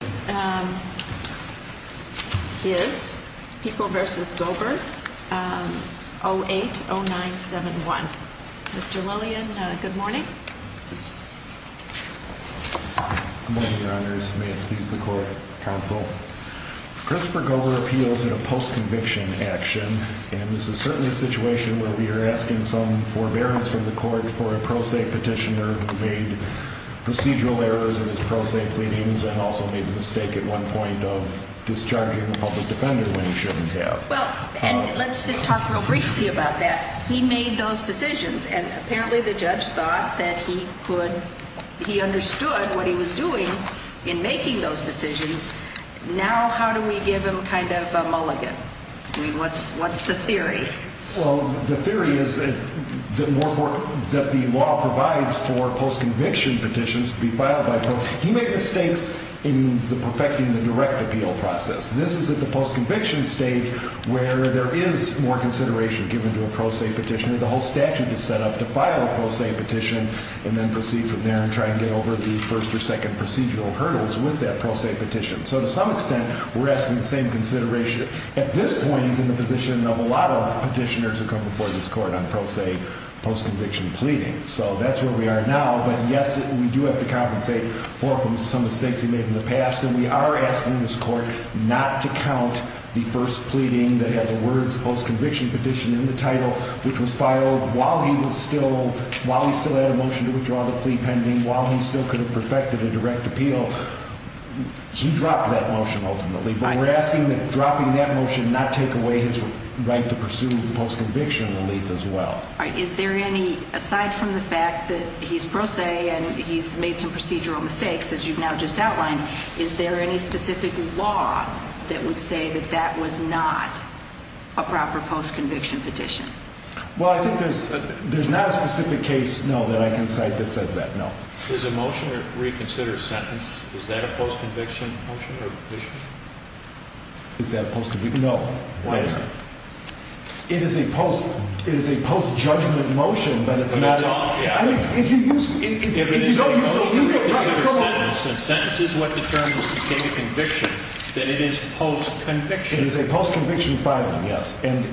08-0971. Mr. Lillian, good morning. Good morning, your honors. May it please the court, counsel. Christopher Gober appeals in a post-conviction action, and this is certainly a situation where we are asking some forbearance from the court for a pro se petitioner who made the mistake at one point of discharging a public defender when he shouldn't have. Well, and let's just talk real briefly about that. He made those decisions, and apparently the judge thought that he understood what he was doing in making those decisions. Now how do we give him kind of a mulligan? I mean, what's the theory? Well, the theory is that the law provides for post-conviction petitions to be filed by pro se. He made mistakes in perfecting the direct appeal process. This is at the post-conviction stage where there is more consideration given to a pro se petitioner. The whole statute is set up to file a pro se petition and then proceed from there and try and get over the first or second procedural hurdles with that pro se petition. So to some extent, we're asking the same consideration. At this point, he's in the position of a lot of petitioners who come before this court on pro se post-conviction pleading. So that's where we are now. But yes, we do have to compensate for some of the mistakes he made in the past. And we are asking this court not to count the first pleading that had the words post-conviction petition in the title, which was filed while he still had a motion to withdraw the plea pending, while he still could have perfected a direct appeal. He dropped that motion ultimately. But we're asking that dropping that motion not take away his right to pursue post-conviction relief as well. All right. Is there any, aside from the fact that he's pro se and he's made some procedural mistakes, as you've now just outlined, is there any specific law that would say that that was not a proper post-conviction petition? Well, I think there's not a specific case, no, that I can cite that says that, no. There's a motion to reconsider sentence. Is that a post-conviction motion or petition? Is that a post-conviction motion? No. Why is that? It is a post-judgment motion, but it's not a... Can I talk? Yeah. I mean, if you use... If it is a motion to reconsider sentence, and sentence is what determines the date of conviction, then it is post-conviction. It is a post-conviction filing, yes. And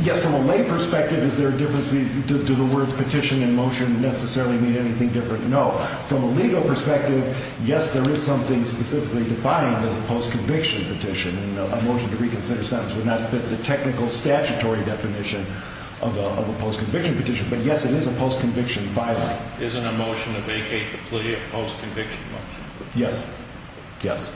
yes, from a lay perspective, is there a difference between, do the words petition and motion necessarily mean anything different? No. From a legal perspective, yes, there is something specifically defined as a post-conviction petition, and a motion to reconsider sentence would not fit the technical statutory definition of a post-conviction petition, but yes, it is a post-conviction filing. Isn't a motion to vacate the plea a post-conviction motion? Yes. Yes.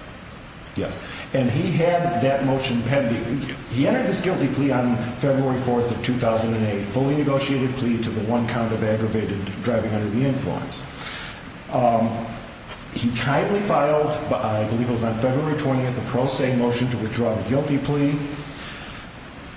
Yes. And he had that motion pending. He entered this guilty plea on February 4th of 2008, fully negotiated plea to the one count of aggravated driving under the influence. He tidily filed, I believe it was on February 20th, a pro se motion to withdraw the guilty plea.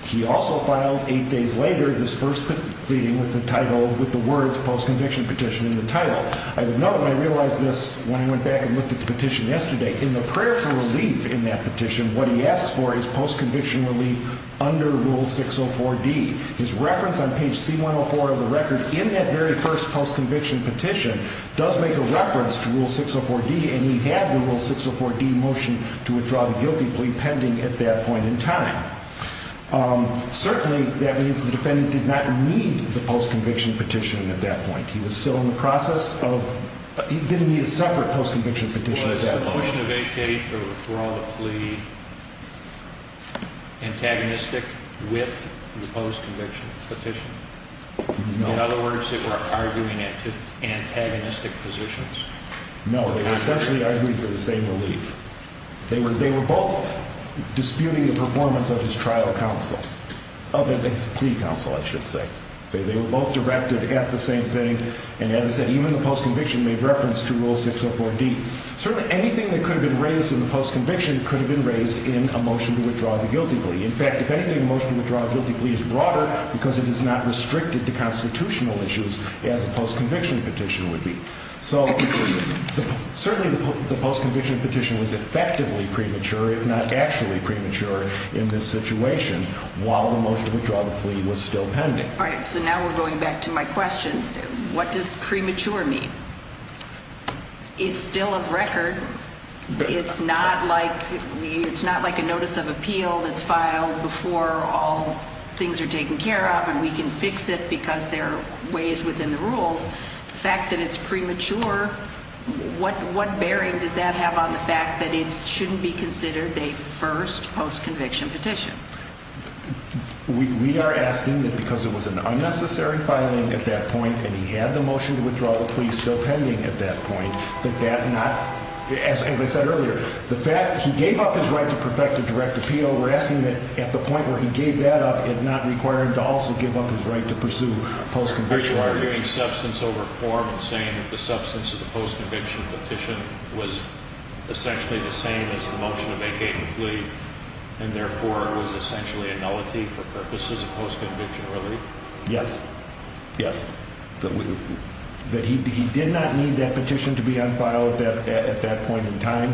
He also filed eight days later this first pleading with the title, with the words post-conviction petition in the title. I didn't know, and I realized this when I went back and looked at the petition yesterday. In the prayer for relief in that petition, what he asks for is post-conviction relief under Rule 604D. His reference on page C-104 of the record in that very first post-conviction petition does make a reference to Rule 604D, and he had the Rule 604D motion to withdraw the guilty plea pending at that point in time. Certainly, that means the defendant did not need the post-conviction petition at that point. He was still in the process of, he didn't need a separate post-conviction petition at that point. Was the motion of 8K to withdraw the plea antagonistic with the post-conviction petition? No. In other words, they were arguing it to antagonistic positions? No, they were essentially arguing for the same relief. They were both disputing the performance of his trial counsel, of his plea counsel, I should say. They were both directed at the same thing, and as I said, even the post-conviction made reference to Rule 604D. Certainly, anything that could have been raised in the post-conviction could have been raised in a motion to withdraw the guilty plea. In fact, if anything, a motion to withdraw a guilty plea is broader because it is not restricted to constitutional issues as a post-conviction petition would be. So certainly, the post-conviction petition was effectively premature, if not actually premature, in this situation while the motion to withdraw the plea was still pending. All right, so now we're going back to my question. What does premature mean? It's still a record. It's not like a notice of appeal that's filed before all things are taken care of and we can fix it because there are ways within the rules. The fact that it's premature, what bearing does that have on the fact that it shouldn't be considered a first post-conviction petition? We are asking that because it was an unnecessary filing at that point and he had the motion to withdraw the plea still pending at that point, that that not, as I said earlier, the fact that he gave up his right to perfect a direct appeal, we're asking that at the point where he gave that up, it not require him to also give up his right to pursue post-conviction relief. Are you arguing substance over form and saying that the substance of the post-conviction petition was essentially the same as the motion to vacate the plea and therefore it was essentially a nullity for purposes of post-conviction relief? Yes. Yes. That he did not need that petition to be on file at that point in time.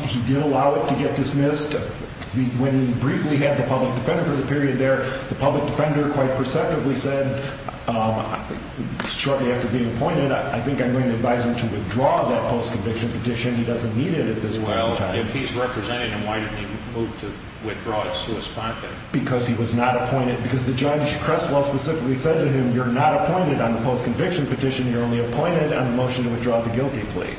He did allow it to get dismissed. When he briefly had the public defender for the period there, the public defender quite perceptively said shortly after being appointed, I think I'm going to advise him to withdraw that post-conviction petition. He doesn't need it at this point in time. Well, if he's representing him, why didn't he move to withdraw it sui sponte? Because he was not appointed because the judge Crestwell specifically said to him, you're not appointed on the post-conviction petition. You're only appointed on the motion to withdraw the guilty plea.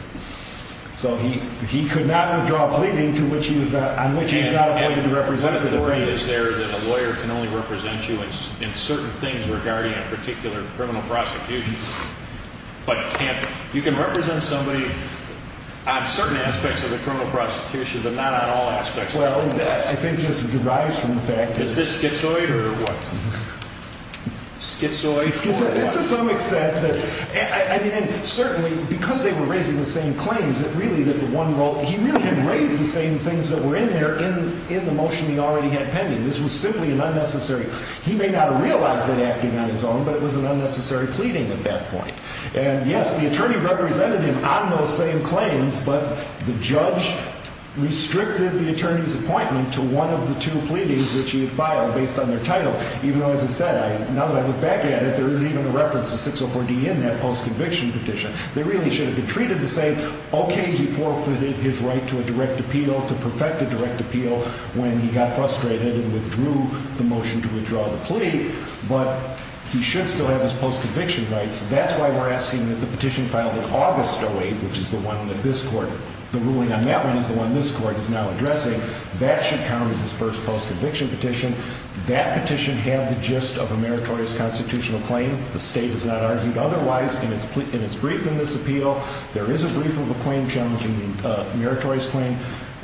So he, he could not withdraw pleading to which he was on, which he's not appointed to represent. Is there that a lawyer can only represent you in certain things regarding a particular criminal prosecution, but you can represent somebody on certain aspects of the criminal prosecution, but not on all aspects. Well, I think this derives from the fact that Is this schizoid or what? Schizoid? To some extent. I mean, certainly because they were raising the same claims that really that the one role, he really didn't raise the same things that were in there in, in the motion he already had pending. This was simply an unnecessary. He may not realize that acting on his own, but it was an unnecessary pleading at that point. And yes, the attorney represented him on those same claims, but the judge restricted the attorney's appointment to one of the two pleadings that she had filed based on their title. Even though, as I said, I, now that I look back at it, there is even a reference to 604D in that post-conviction petition. They really should have been treated the same. Okay. He forfeited his right to a direct appeal to perfect a direct appeal when he got frustrated and withdrew the motion to withdraw the plea, but he should still have his post-conviction rights. That's why we're asking that the petition filed in August 08, which is the one that this court, the ruling on that one is the one this court is now addressing. That should count as his first post-conviction petition. That petition had the gist of a meritorious constitutional claim. The state has not argued otherwise in its plea, in its brief in this appeal. There is a brief of a claim challenging the meritorious claim.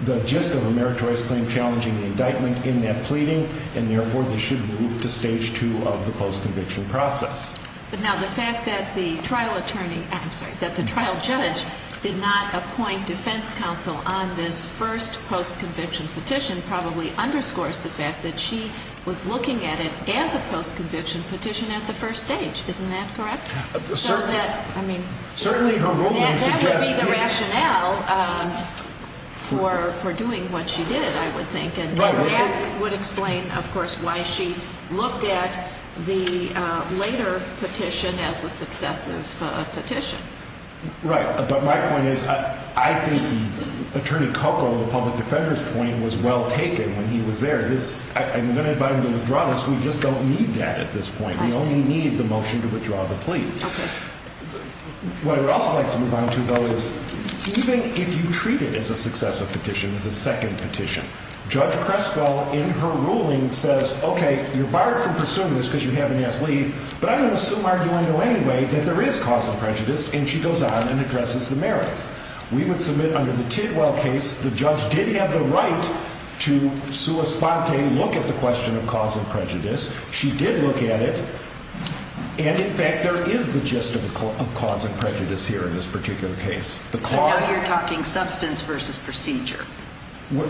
The gist of a meritorious claim challenging the indictment in that pleading, and therefore they should move to stage two of the post-conviction process. But now the fact that the trial attorney, I'm sorry, that the trial judge did not appoint defense counsel on this first post-conviction petition probably underscores the fact that she was looking at it as a post-conviction petition at the first stage. Isn't that correct? Certainly. So that, I mean, that would be the rationale for doing what she did, I would think. And that would explain, of course, why she looked at the later petition as a successive petition. Right. But my point is, I think the Attorney Coco, the public defender's point was well taken when he was there. I'm going to invite him to withdraw this. We just don't need that at this point. We only need the motion to withdraw the plea. Okay. What I would also like to move on to, though, is even if you treat it as a successive petition, as a second petition, Judge Creswell in her ruling says, okay, you're barred from pursuing this because you haven't asked leave, but I'm going to assume, arguably anyway, that there is cause and prejudice. And she goes on and addresses the merits. We would submit under the Tidwell case, the judge did have the right to sua sponte, look at the question of cause and prejudice. She did look at it. And in fact, there is the gist of cause and prejudice here in this particular case. So now you're talking substance versus procedure.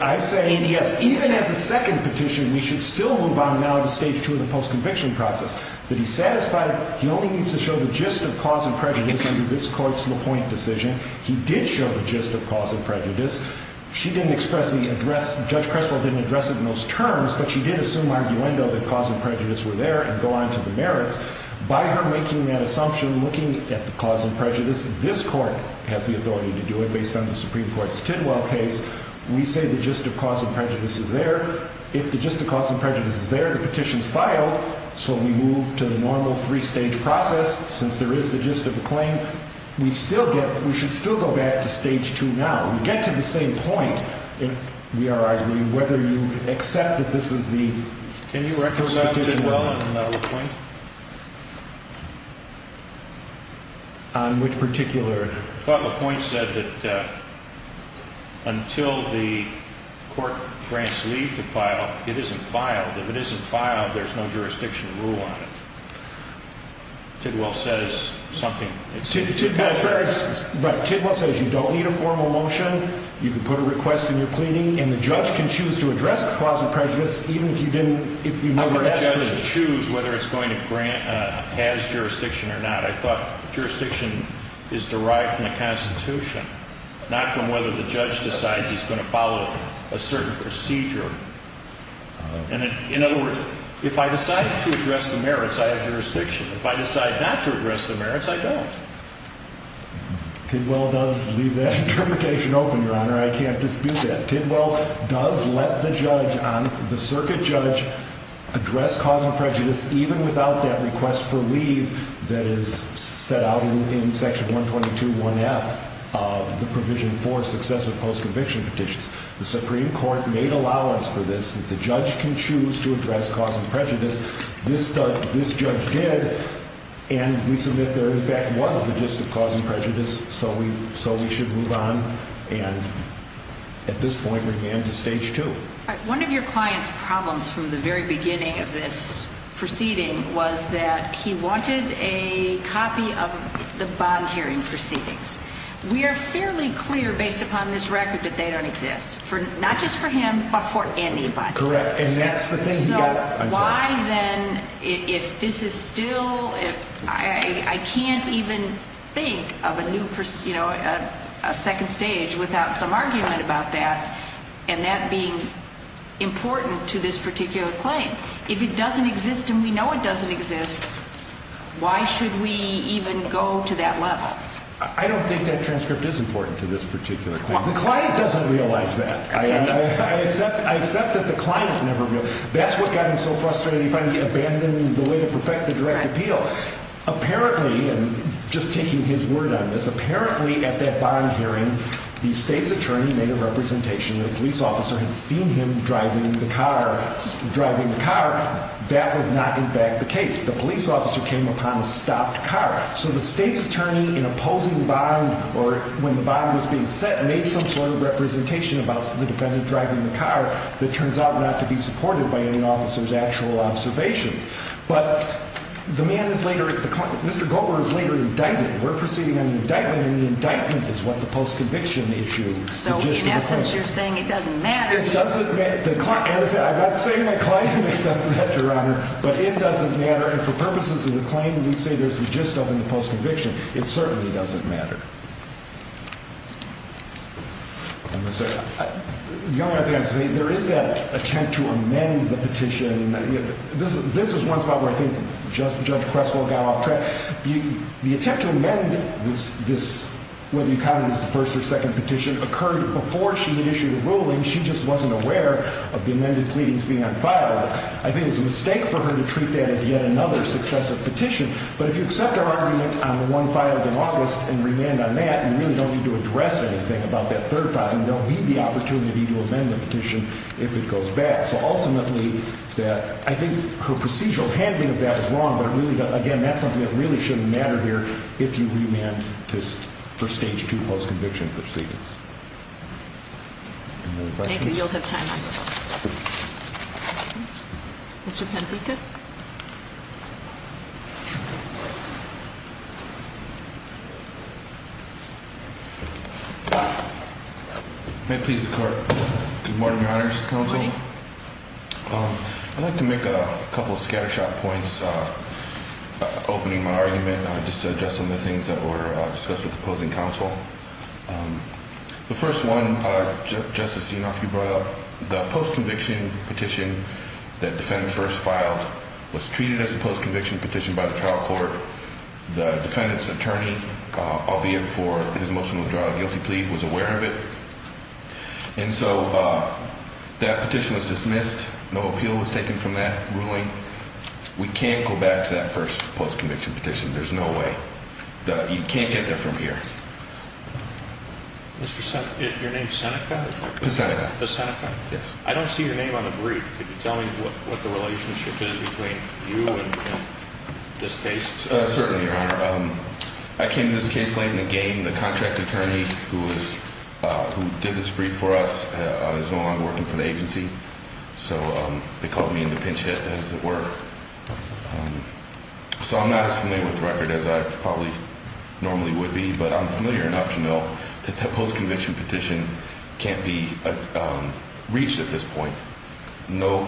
I'm saying, yes, even as a second petition, we should still move on now to stage two of the post-conviction process. That he's satisfied, he only needs to show the gist of cause and prejudice under this court's LaPointe decision. He did show the gist of cause and prejudice. She didn't expressly address, Judge Creswell didn't address it in those terms, but she did assume arguendo that cause and prejudice were there and go on to the merits. By her authority to do it, based on the Supreme Court's Tidwell case, we say the gist of cause and prejudice is there. If the gist of cause and prejudice is there, the petition is filed, so we move to the normal three-stage process. Since there is the gist of the claim, we still get, we should still go back to stage two now. We get to the same point, if we are arguing whether you accept that this is the, Can you recommend Tidwell and LaPointe? On which particular? LaPointe said that until the court grants leave to file, it isn't filed. If it isn't filed, there's no jurisdiction rule on it. Tidwell says something. Tidwell says you don't need a formal motion, you can put a request in your pleading, and the judge can choose to address cause and prejudice even if you didn't, if you never had jurisdiction or not. I thought jurisdiction is derived from the Constitution, not from whether the judge decides he's going to follow a certain procedure. In other words, if I decide to address the merits, I have jurisdiction. If I decide not to address the merits, I don't. Tidwell does leave that interpretation open, Your Honor. I can't dispute that. Tidwell does let the judge, the circuit judge, address cause and prejudice even without that request for leave that is set out in section 122.1F of the provision for successive post-conviction petitions. The Supreme Court made allowance for this, that the judge can choose to address cause and prejudice. This judge did, and we submit there in fact was the gist of cause and prejudice, so we should move on, and at this point, we're getting to stage two. One of your client's problems from the very beginning of this proceeding was that he wanted a copy of the bond hearing proceedings. We are fairly clear, based upon this record, that they don't exist, not just for him, but for anybody. Correct, and that's the thing So why then, if this is still, I can't even think of a new, you know, a second stage without some argument about that, and that being important to this particular claim. If it doesn't exist and we know it doesn't exist, why should we even go to that level? I don't think that transcript is important to this particular claim. The client doesn't realize that. I accept that the client never realized. That's what got him so frustrated. He finally abandoned the way to perfect the direct appeal. Apparently, and just taking his word on this, apparently at that bond hearing, the state's attorney made a representation that a police officer had seen him driving the car. That was not in fact the case. The police officer came upon a stopped car. So the state's attorney, in opposing the bond, or when the bond was being set, made some sort of representation about the defendant driving the car that turns out not to be supported by any officer's actual observations. But the man is later, Mr. Goldberg is later indicted. We're proceeding on an indictment, and the indictment is what the post-conviction issued. So in essence, you're saying it doesn't matter? It doesn't matter. I'm not saying the client makes sense of that, Your Honor, but it doesn't matter. And for purposes of the claim, we say there's a gist of the post-conviction. It certainly doesn't matter. Your Honor, there is that attempt to amend the petition. This is one spot where I think Judge Creswell got off track. The attempt to amend this, whether you count it as the first or second petition, occurred before she had issued a ruling. She just wasn't aware of the amended pleadings being unfiled. I think it was a mistake for her to treat that as yet another successive petition. But if you accept our argument on the one filed in August and remand on that, you really don't need to address anything about that third file, and don't need the opportunity to amend the petition if it goes back. So ultimately, I think her procedural handling of that is wrong, but again, that's something that really shouldn't matter here if you remand for Stage 2 post-conviction proceedings. Any other questions? Thank you. You'll have time. Mr. Panzeca. May it please the Court. Good morning, Your Honors, Counsel. Good morning. I'd like to make a couple of scattershot points, opening my argument, just to address some of the things that were discussed with the opposing counsel. The first one, Justice Yanofsky brought up, the post-conviction petition that the defendant first filed was treated as a post-conviction petition by the trial court. The defendant's attorney, albeit for his motion to withdraw a guilty plea, was aware of it. And so that petition was dismissed. No appeal was taken from that ruling. We can't go back to that first post-conviction petition. There's no way. You can't get there from here. Your name's Seneca? Yes. I don't see your name on the brief. Can you tell me what the relationship is between you and this case? Certainly, Your Honor. I came to this case late in the game. The contract attorney who did this brief for us is no longer working for the agency. So they called me in to pinch So I'm not as familiar with the record as I probably normally would be, but I'm familiar enough to know that the post-conviction petition can't be reached at this point. No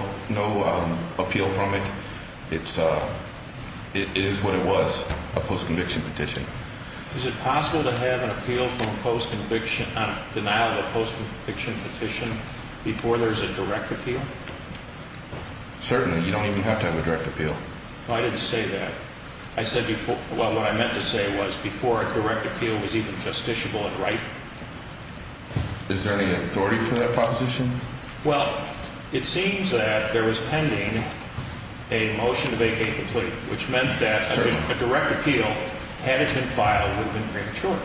appeal from it. It is what it was, a post-conviction petition. Is it possible to have a denial of a post-conviction petition before there's a direct appeal? Certainly. You don't have to have a direct appeal. I didn't say that. What I meant to say was before a direct appeal was even justiciable and right. Is there any authority for that proposition? Well, it seems that there was pending a motion to vacate the plea, which meant that a direct appeal, had it been filed, would have been premature.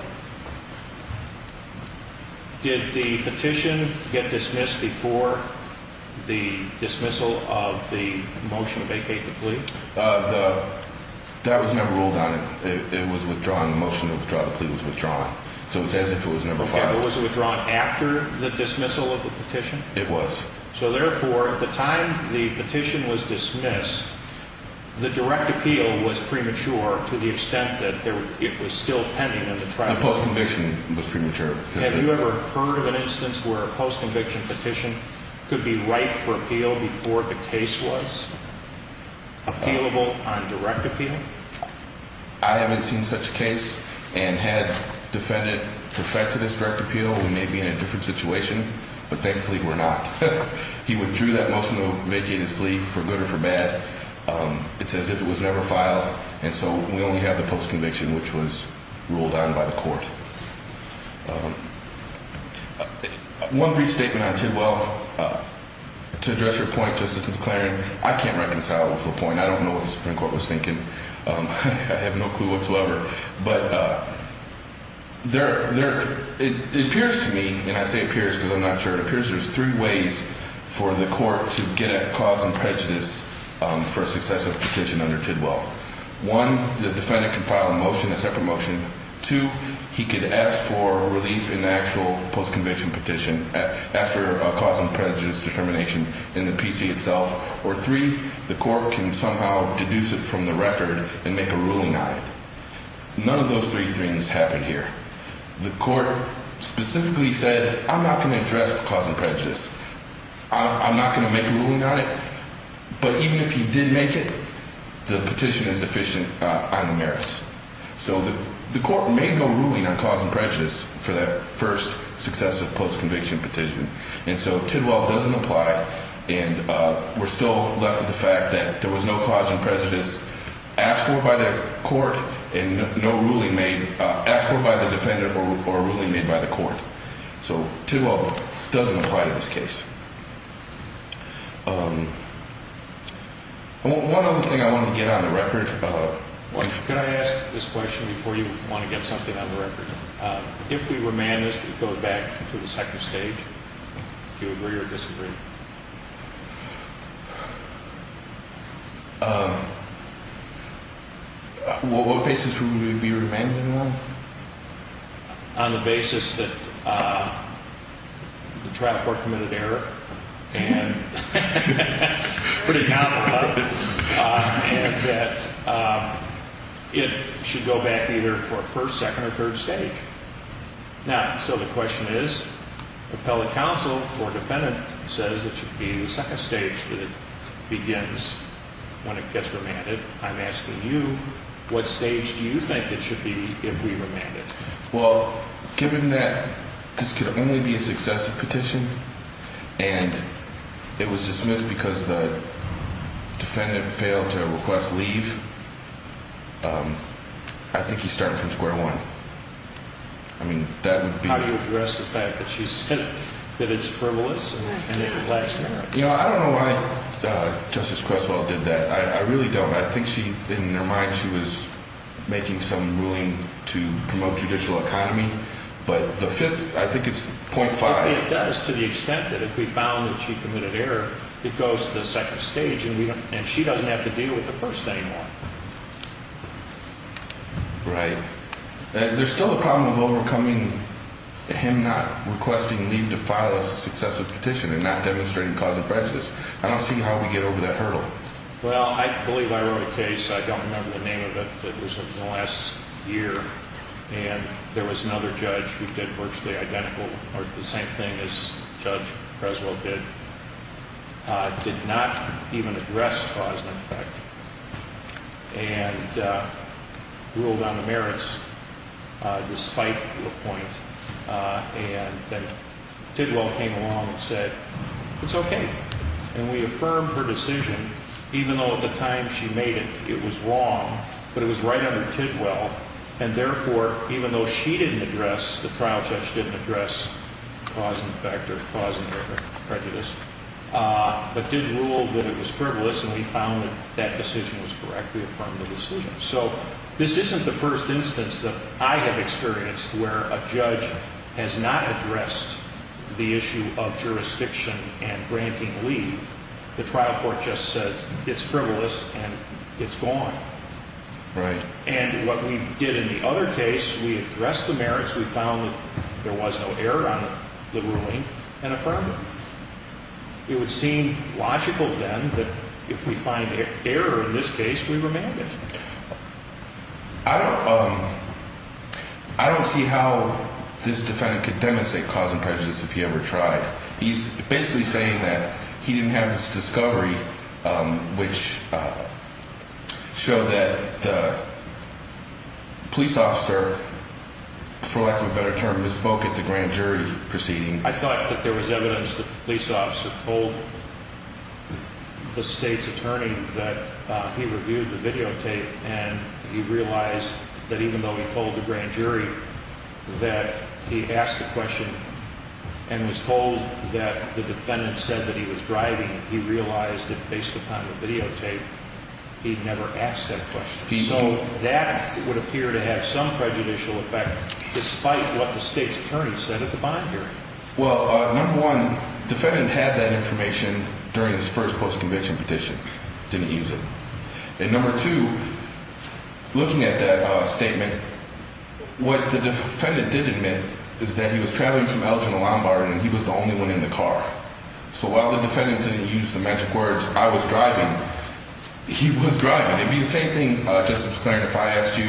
Did the petition get dismissed before the dismissal of the motion to vacate the plea? That was never ruled on. It was withdrawn. The motion to withdraw the plea was withdrawn. So it's as if it was never filed. Okay, but was it withdrawn after the dismissal of the petition? It was. So therefore, at the time the petition was dismissed, the direct appeal was premature to the extent that it was still pending. The post-conviction was premature. Have you ever heard of an instance where a post-conviction petition could be right for appeal before the case was appealable on direct appeal? I haven't seen such a case. And had defendant perfected its direct appeal, we may be in a different situation, but thankfully we're not. He withdrew that motion to vacate his plea, for good or for bad. It's as if it was never filed, and so we only have the post-conviction, which was ruled on by the court. One brief statement on Tidwell. To address your point, Justice McClaren, I can't reconcile it with LaPointe. I don't know what the Supreme Court was thinking. I have no clue whatsoever. But it appears to me, and I say appears because I'm not sure, it appears there's three ways for the court to get at cause and prejudice for a successive petition under Tidwell. One, the defendant can file a motion, a separate motion. Two, he could ask for relief in the actual post-conviction petition after a cause and prejudice determination in the PC itself. Or three, the court can somehow deduce it from the record and make a ruling on it. None of those three things happen here. The court specifically said, I'm not going to address cause and prejudice. I'm not going to make a ruling on it. But even if he did make it, the petition is deficient on the merits. So the court may go ruling on cause and prejudice for that first successive post-conviction petition. And so Tidwell doesn't apply. And we're still left with the fact that there was no cause and prejudice asked for by the court and no ruling made, asked for by the defendant or a ruling made by the court. So Tidwell doesn't apply to this case. One other thing I wanted to get on the record. Could I ask this question before you want to get something on the record? If we remand this to go back to the second stage, do you agree or disagree? What basis would we be remanding them on? On the basis that the trial court committed error. And that it should go back either for a first, second or third stage. Now, so the question is, appellate counsel or defendant says it should be the second stage that it begins when it gets remanded. I'm asking you, what stage do you think it should be if we remand it? Well, given that this could only be a successive petition and it was dismissed because the I think he started from square one. I mean, that would be. How do you address the fact that she said that it's frivolous and it lacks merit? You know, I don't know why Justice Creswell did that. I really don't. I think she, in her mind, she was making some ruling to promote judicial economy. But the fifth, I think it's point five. It does to the extent that if we found that she committed error, it goes to the second stage. And she doesn't have to deal with the first thing. Right. There's still a problem of overcoming him not requesting leave to file a successive petition and not demonstrating cause of prejudice. I don't see how we get over that hurdle. Well, I believe I wrote a case. I don't remember the name of it, but it was in the last year. And there was another judge who did virtually identical or the same thing as Judge Creswell did. Did not even address cause and effect. And ruled on the merits despite the point. And then Tidwell came along and said, it's okay. And we affirmed her decision, even though at the time she made it, it was wrong. But it was right under Tidwell. And, therefore, even though she didn't address, the trial judge didn't address cause and effect or cause and error, prejudice, but did rule that it was frivolous. And we found that that decision was correct. We affirmed the decision. So this isn't the first instance that I have experienced where a judge has not addressed the issue of jurisdiction and granting leave. The trial court just said it's frivolous and it's gone. Right. And what we did in the other case, we addressed the merits. We found that there was no error on the ruling and affirmed it. It would seem logical then that if we find error in this case, we remand it. I don't see how this defendant could demonstrate cause and prejudice if he ever tried. He's basically saying that he didn't have this discovery, which showed that the police officer, for lack of a better term, misspoke at the grand jury proceeding. I thought that there was evidence the police officer told the state's attorney that he reviewed the videotape and he realized that even though he told the grand jury that he asked the question and was told that the defendant said that he was driving, he realized that based upon the videotape, he'd never asked that question. So that would appear to have some prejudicial effect, despite what the state's attorney said at the bond hearing. Well, number one, the defendant had that information during his first post-convention petition, didn't use it. And number two, looking at that statement, what the defendant did admit is that he was traveling from Elgin to Lombard and he was the only one in the car. So while the defendant didn't use the magic words, I was driving, he was driving. It would be the same thing, Justice McClaren, if I asked you,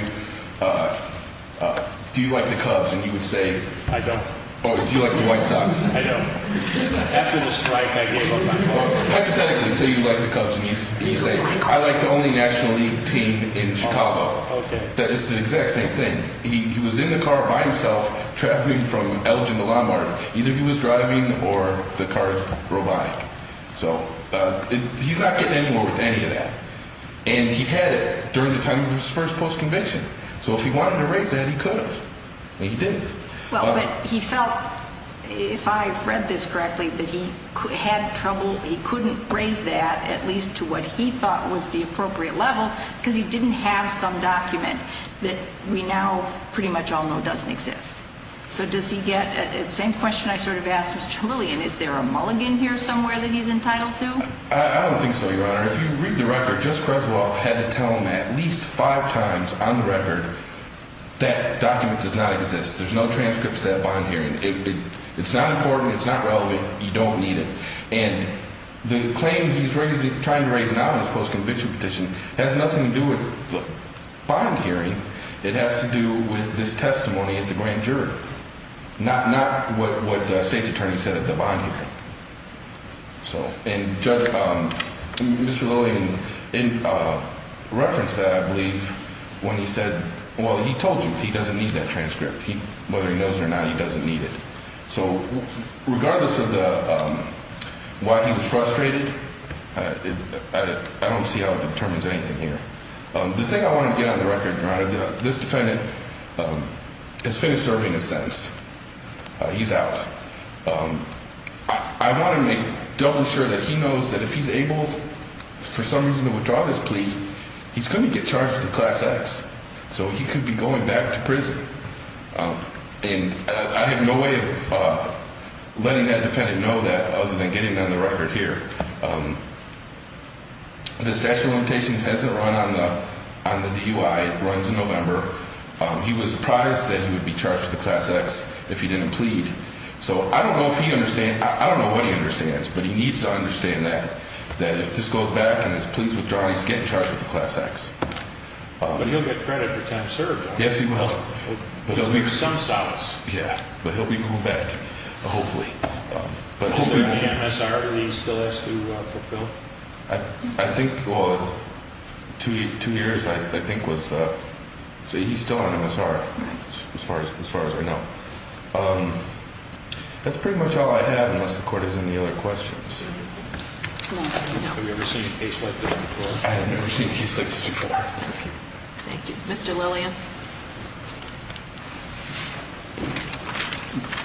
do you like the Cubs? And you would say... I don't. Oh, do you like the White Sox? I don't. After the strike, I gave up my car. Hypothetically, say you like the Cubs and you say, I like the only National League team in Chicago. Okay. It's the exact same thing. He was in the car by himself, traveling from Elgin to Lombard. Either he was driving or the car drove by. So he's not getting anymore with any of that. And he had it during the time of his first post-convention. So if he wanted to raise that, he could have. But he didn't. Well, but he felt, if I've read this correctly, that he had trouble, he couldn't raise that, at least to what he thought was the appropriate level, because he didn't have some document that we now pretty much all know doesn't exist. So does he get, same question I sort of asked Mr. Lillian, is there a mulligan here somewhere that he's entitled to? I don't think so, Your Honor. If you read the record, Judge Creswell had to tell him at least five times on the record that document does not exist. There's no transcripts to that bond hearing. It's not important. It's not relevant. You don't need it. And the claim he's trying to raise now in his post-convention petition has nothing to do with the bond hearing. It has to do with this testimony at the grand jury, not what the state's attorney said at the bond hearing. And Judge, Mr. Lillian referenced that, I believe, when he said, well, he told you he doesn't need that transcript. Whether he knows it or not, he doesn't need it. So regardless of why he was frustrated, I don't see how it determines anything here. The thing I want to get on the record, Your Honor, this defendant has finished serving his sentence. He's out. I want to make doubly sure that he knows that if he's able for some reason to withdraw this plea, he's going to get charged with a Class X. So he could be going back to prison. And I have no way of letting that defendant know that other than getting it on the record here. The statute of limitations hasn't run on the DUI. It runs in November. He was surprised that he would be charged with a Class X if he didn't plead. So I don't know if he understands. I don't know what he understands. But he needs to understand that, that if this goes back and this plea is withdrawn, he's getting charged with a Class X. But he'll get credit for time served. Yes, he will. He'll leave some solace. Yeah. But he'll be going back, hopefully. Is he on MSR and he still has to fulfill? I think, well, two years I think was, so he's still on MSR as far as I know. That's pretty much all I have unless the court has any other questions. Have you ever seen a case like this before? I have never seen a case like this before. Thank you. Mr. Lillian.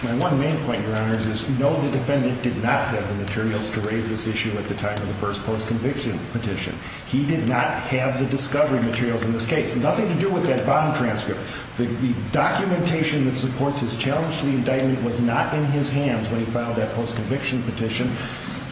My one main point, Your Honor, is no, the defendant did not have the materials to raise this issue at the time of the first post-conviction petition. He did not have the discovery materials in this case. Nothing to do with that bond transcript. The documentation that supports his challenge to the indictment was not in his hands when he filed that post-conviction petition.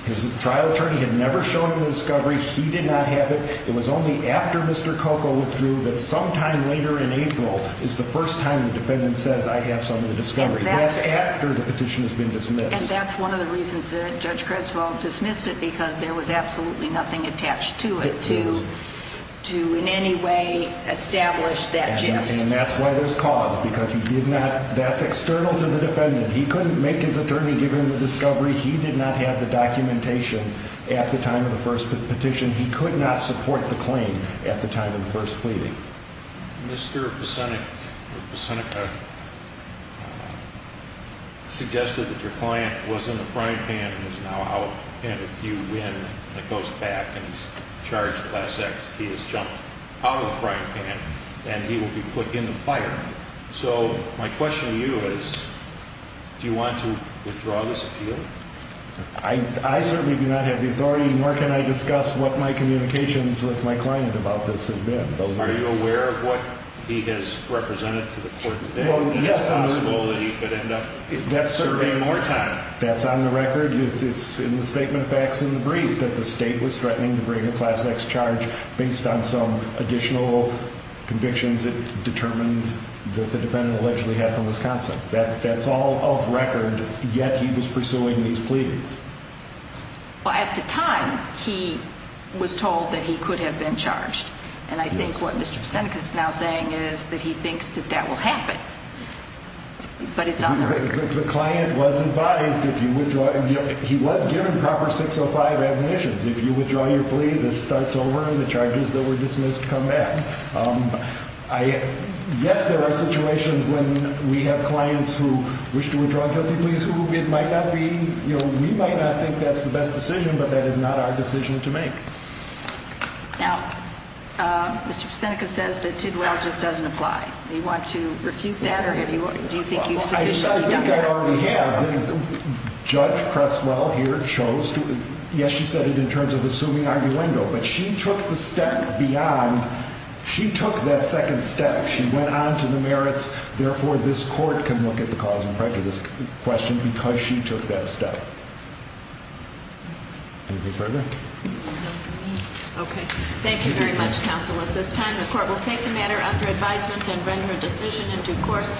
His trial attorney had never shown him the discovery. He did not have it. It was only after Mr. Coco withdrew that sometime later in April is the first time the defendant says I have some of the discovery. That's after the petition has been dismissed. And that's one of the reasons that Judge Creswell dismissed it because there was absolutely nothing attached to it to in any way establish that gist. And that's why there's cause because he did not, that's external to the defendant. He couldn't make his attorney give him the discovery. He did not have the documentation at the time of the first petition. He could not support the claim at the time of the first pleading. Mr. Pesenica suggested that your client was in the frying pan and is now out. And if you win and it goes back and he's charged class X, he has jumped out of the frying pan and he will be put in the fire. So my question to you is, do you want to withdraw this appeal? I certainly do not have the authority. And where can I discuss what my communications with my client about this have been? Are you aware of what he has represented to the court today? Yes. He could end up serving more time. That's on the record. It's in the statement of facts in the brief that the state was threatening to bring a class X charge based on some additional convictions. It determined that the defendant allegedly had from Wisconsin. That's all off record. Yet he was pursuing these pleadings. At the time, he was told that he could have been charged. And I think what Mr. Pesenica is now saying is that he thinks that that will happen. But it's on the record. The client was advised if you withdraw. He was given proper 605 admonitions. If you withdraw your plea, this starts over and the charges that were dismissed come back. Yes, there are situations when we have clients who wish to withdraw guilty pleas who it might not be. We might not think that's the best decision, but that is not our decision to make. Now, Mr. Pesenica says that Tidwell just doesn't apply. You want to refute that or do you think you've sufficiently done that? I think I already have. Judge Cresswell here chose to. Yes, she said it in terms of assuming arguendo. But she took the step beyond. She took that second step. She went on to the merits. Therefore, this court can look at the cause and prejudice question because she took that step. Anything further? No. Okay. Thank you very much, counsel. At this time, the court will take the matter under advisement and render a decision into course.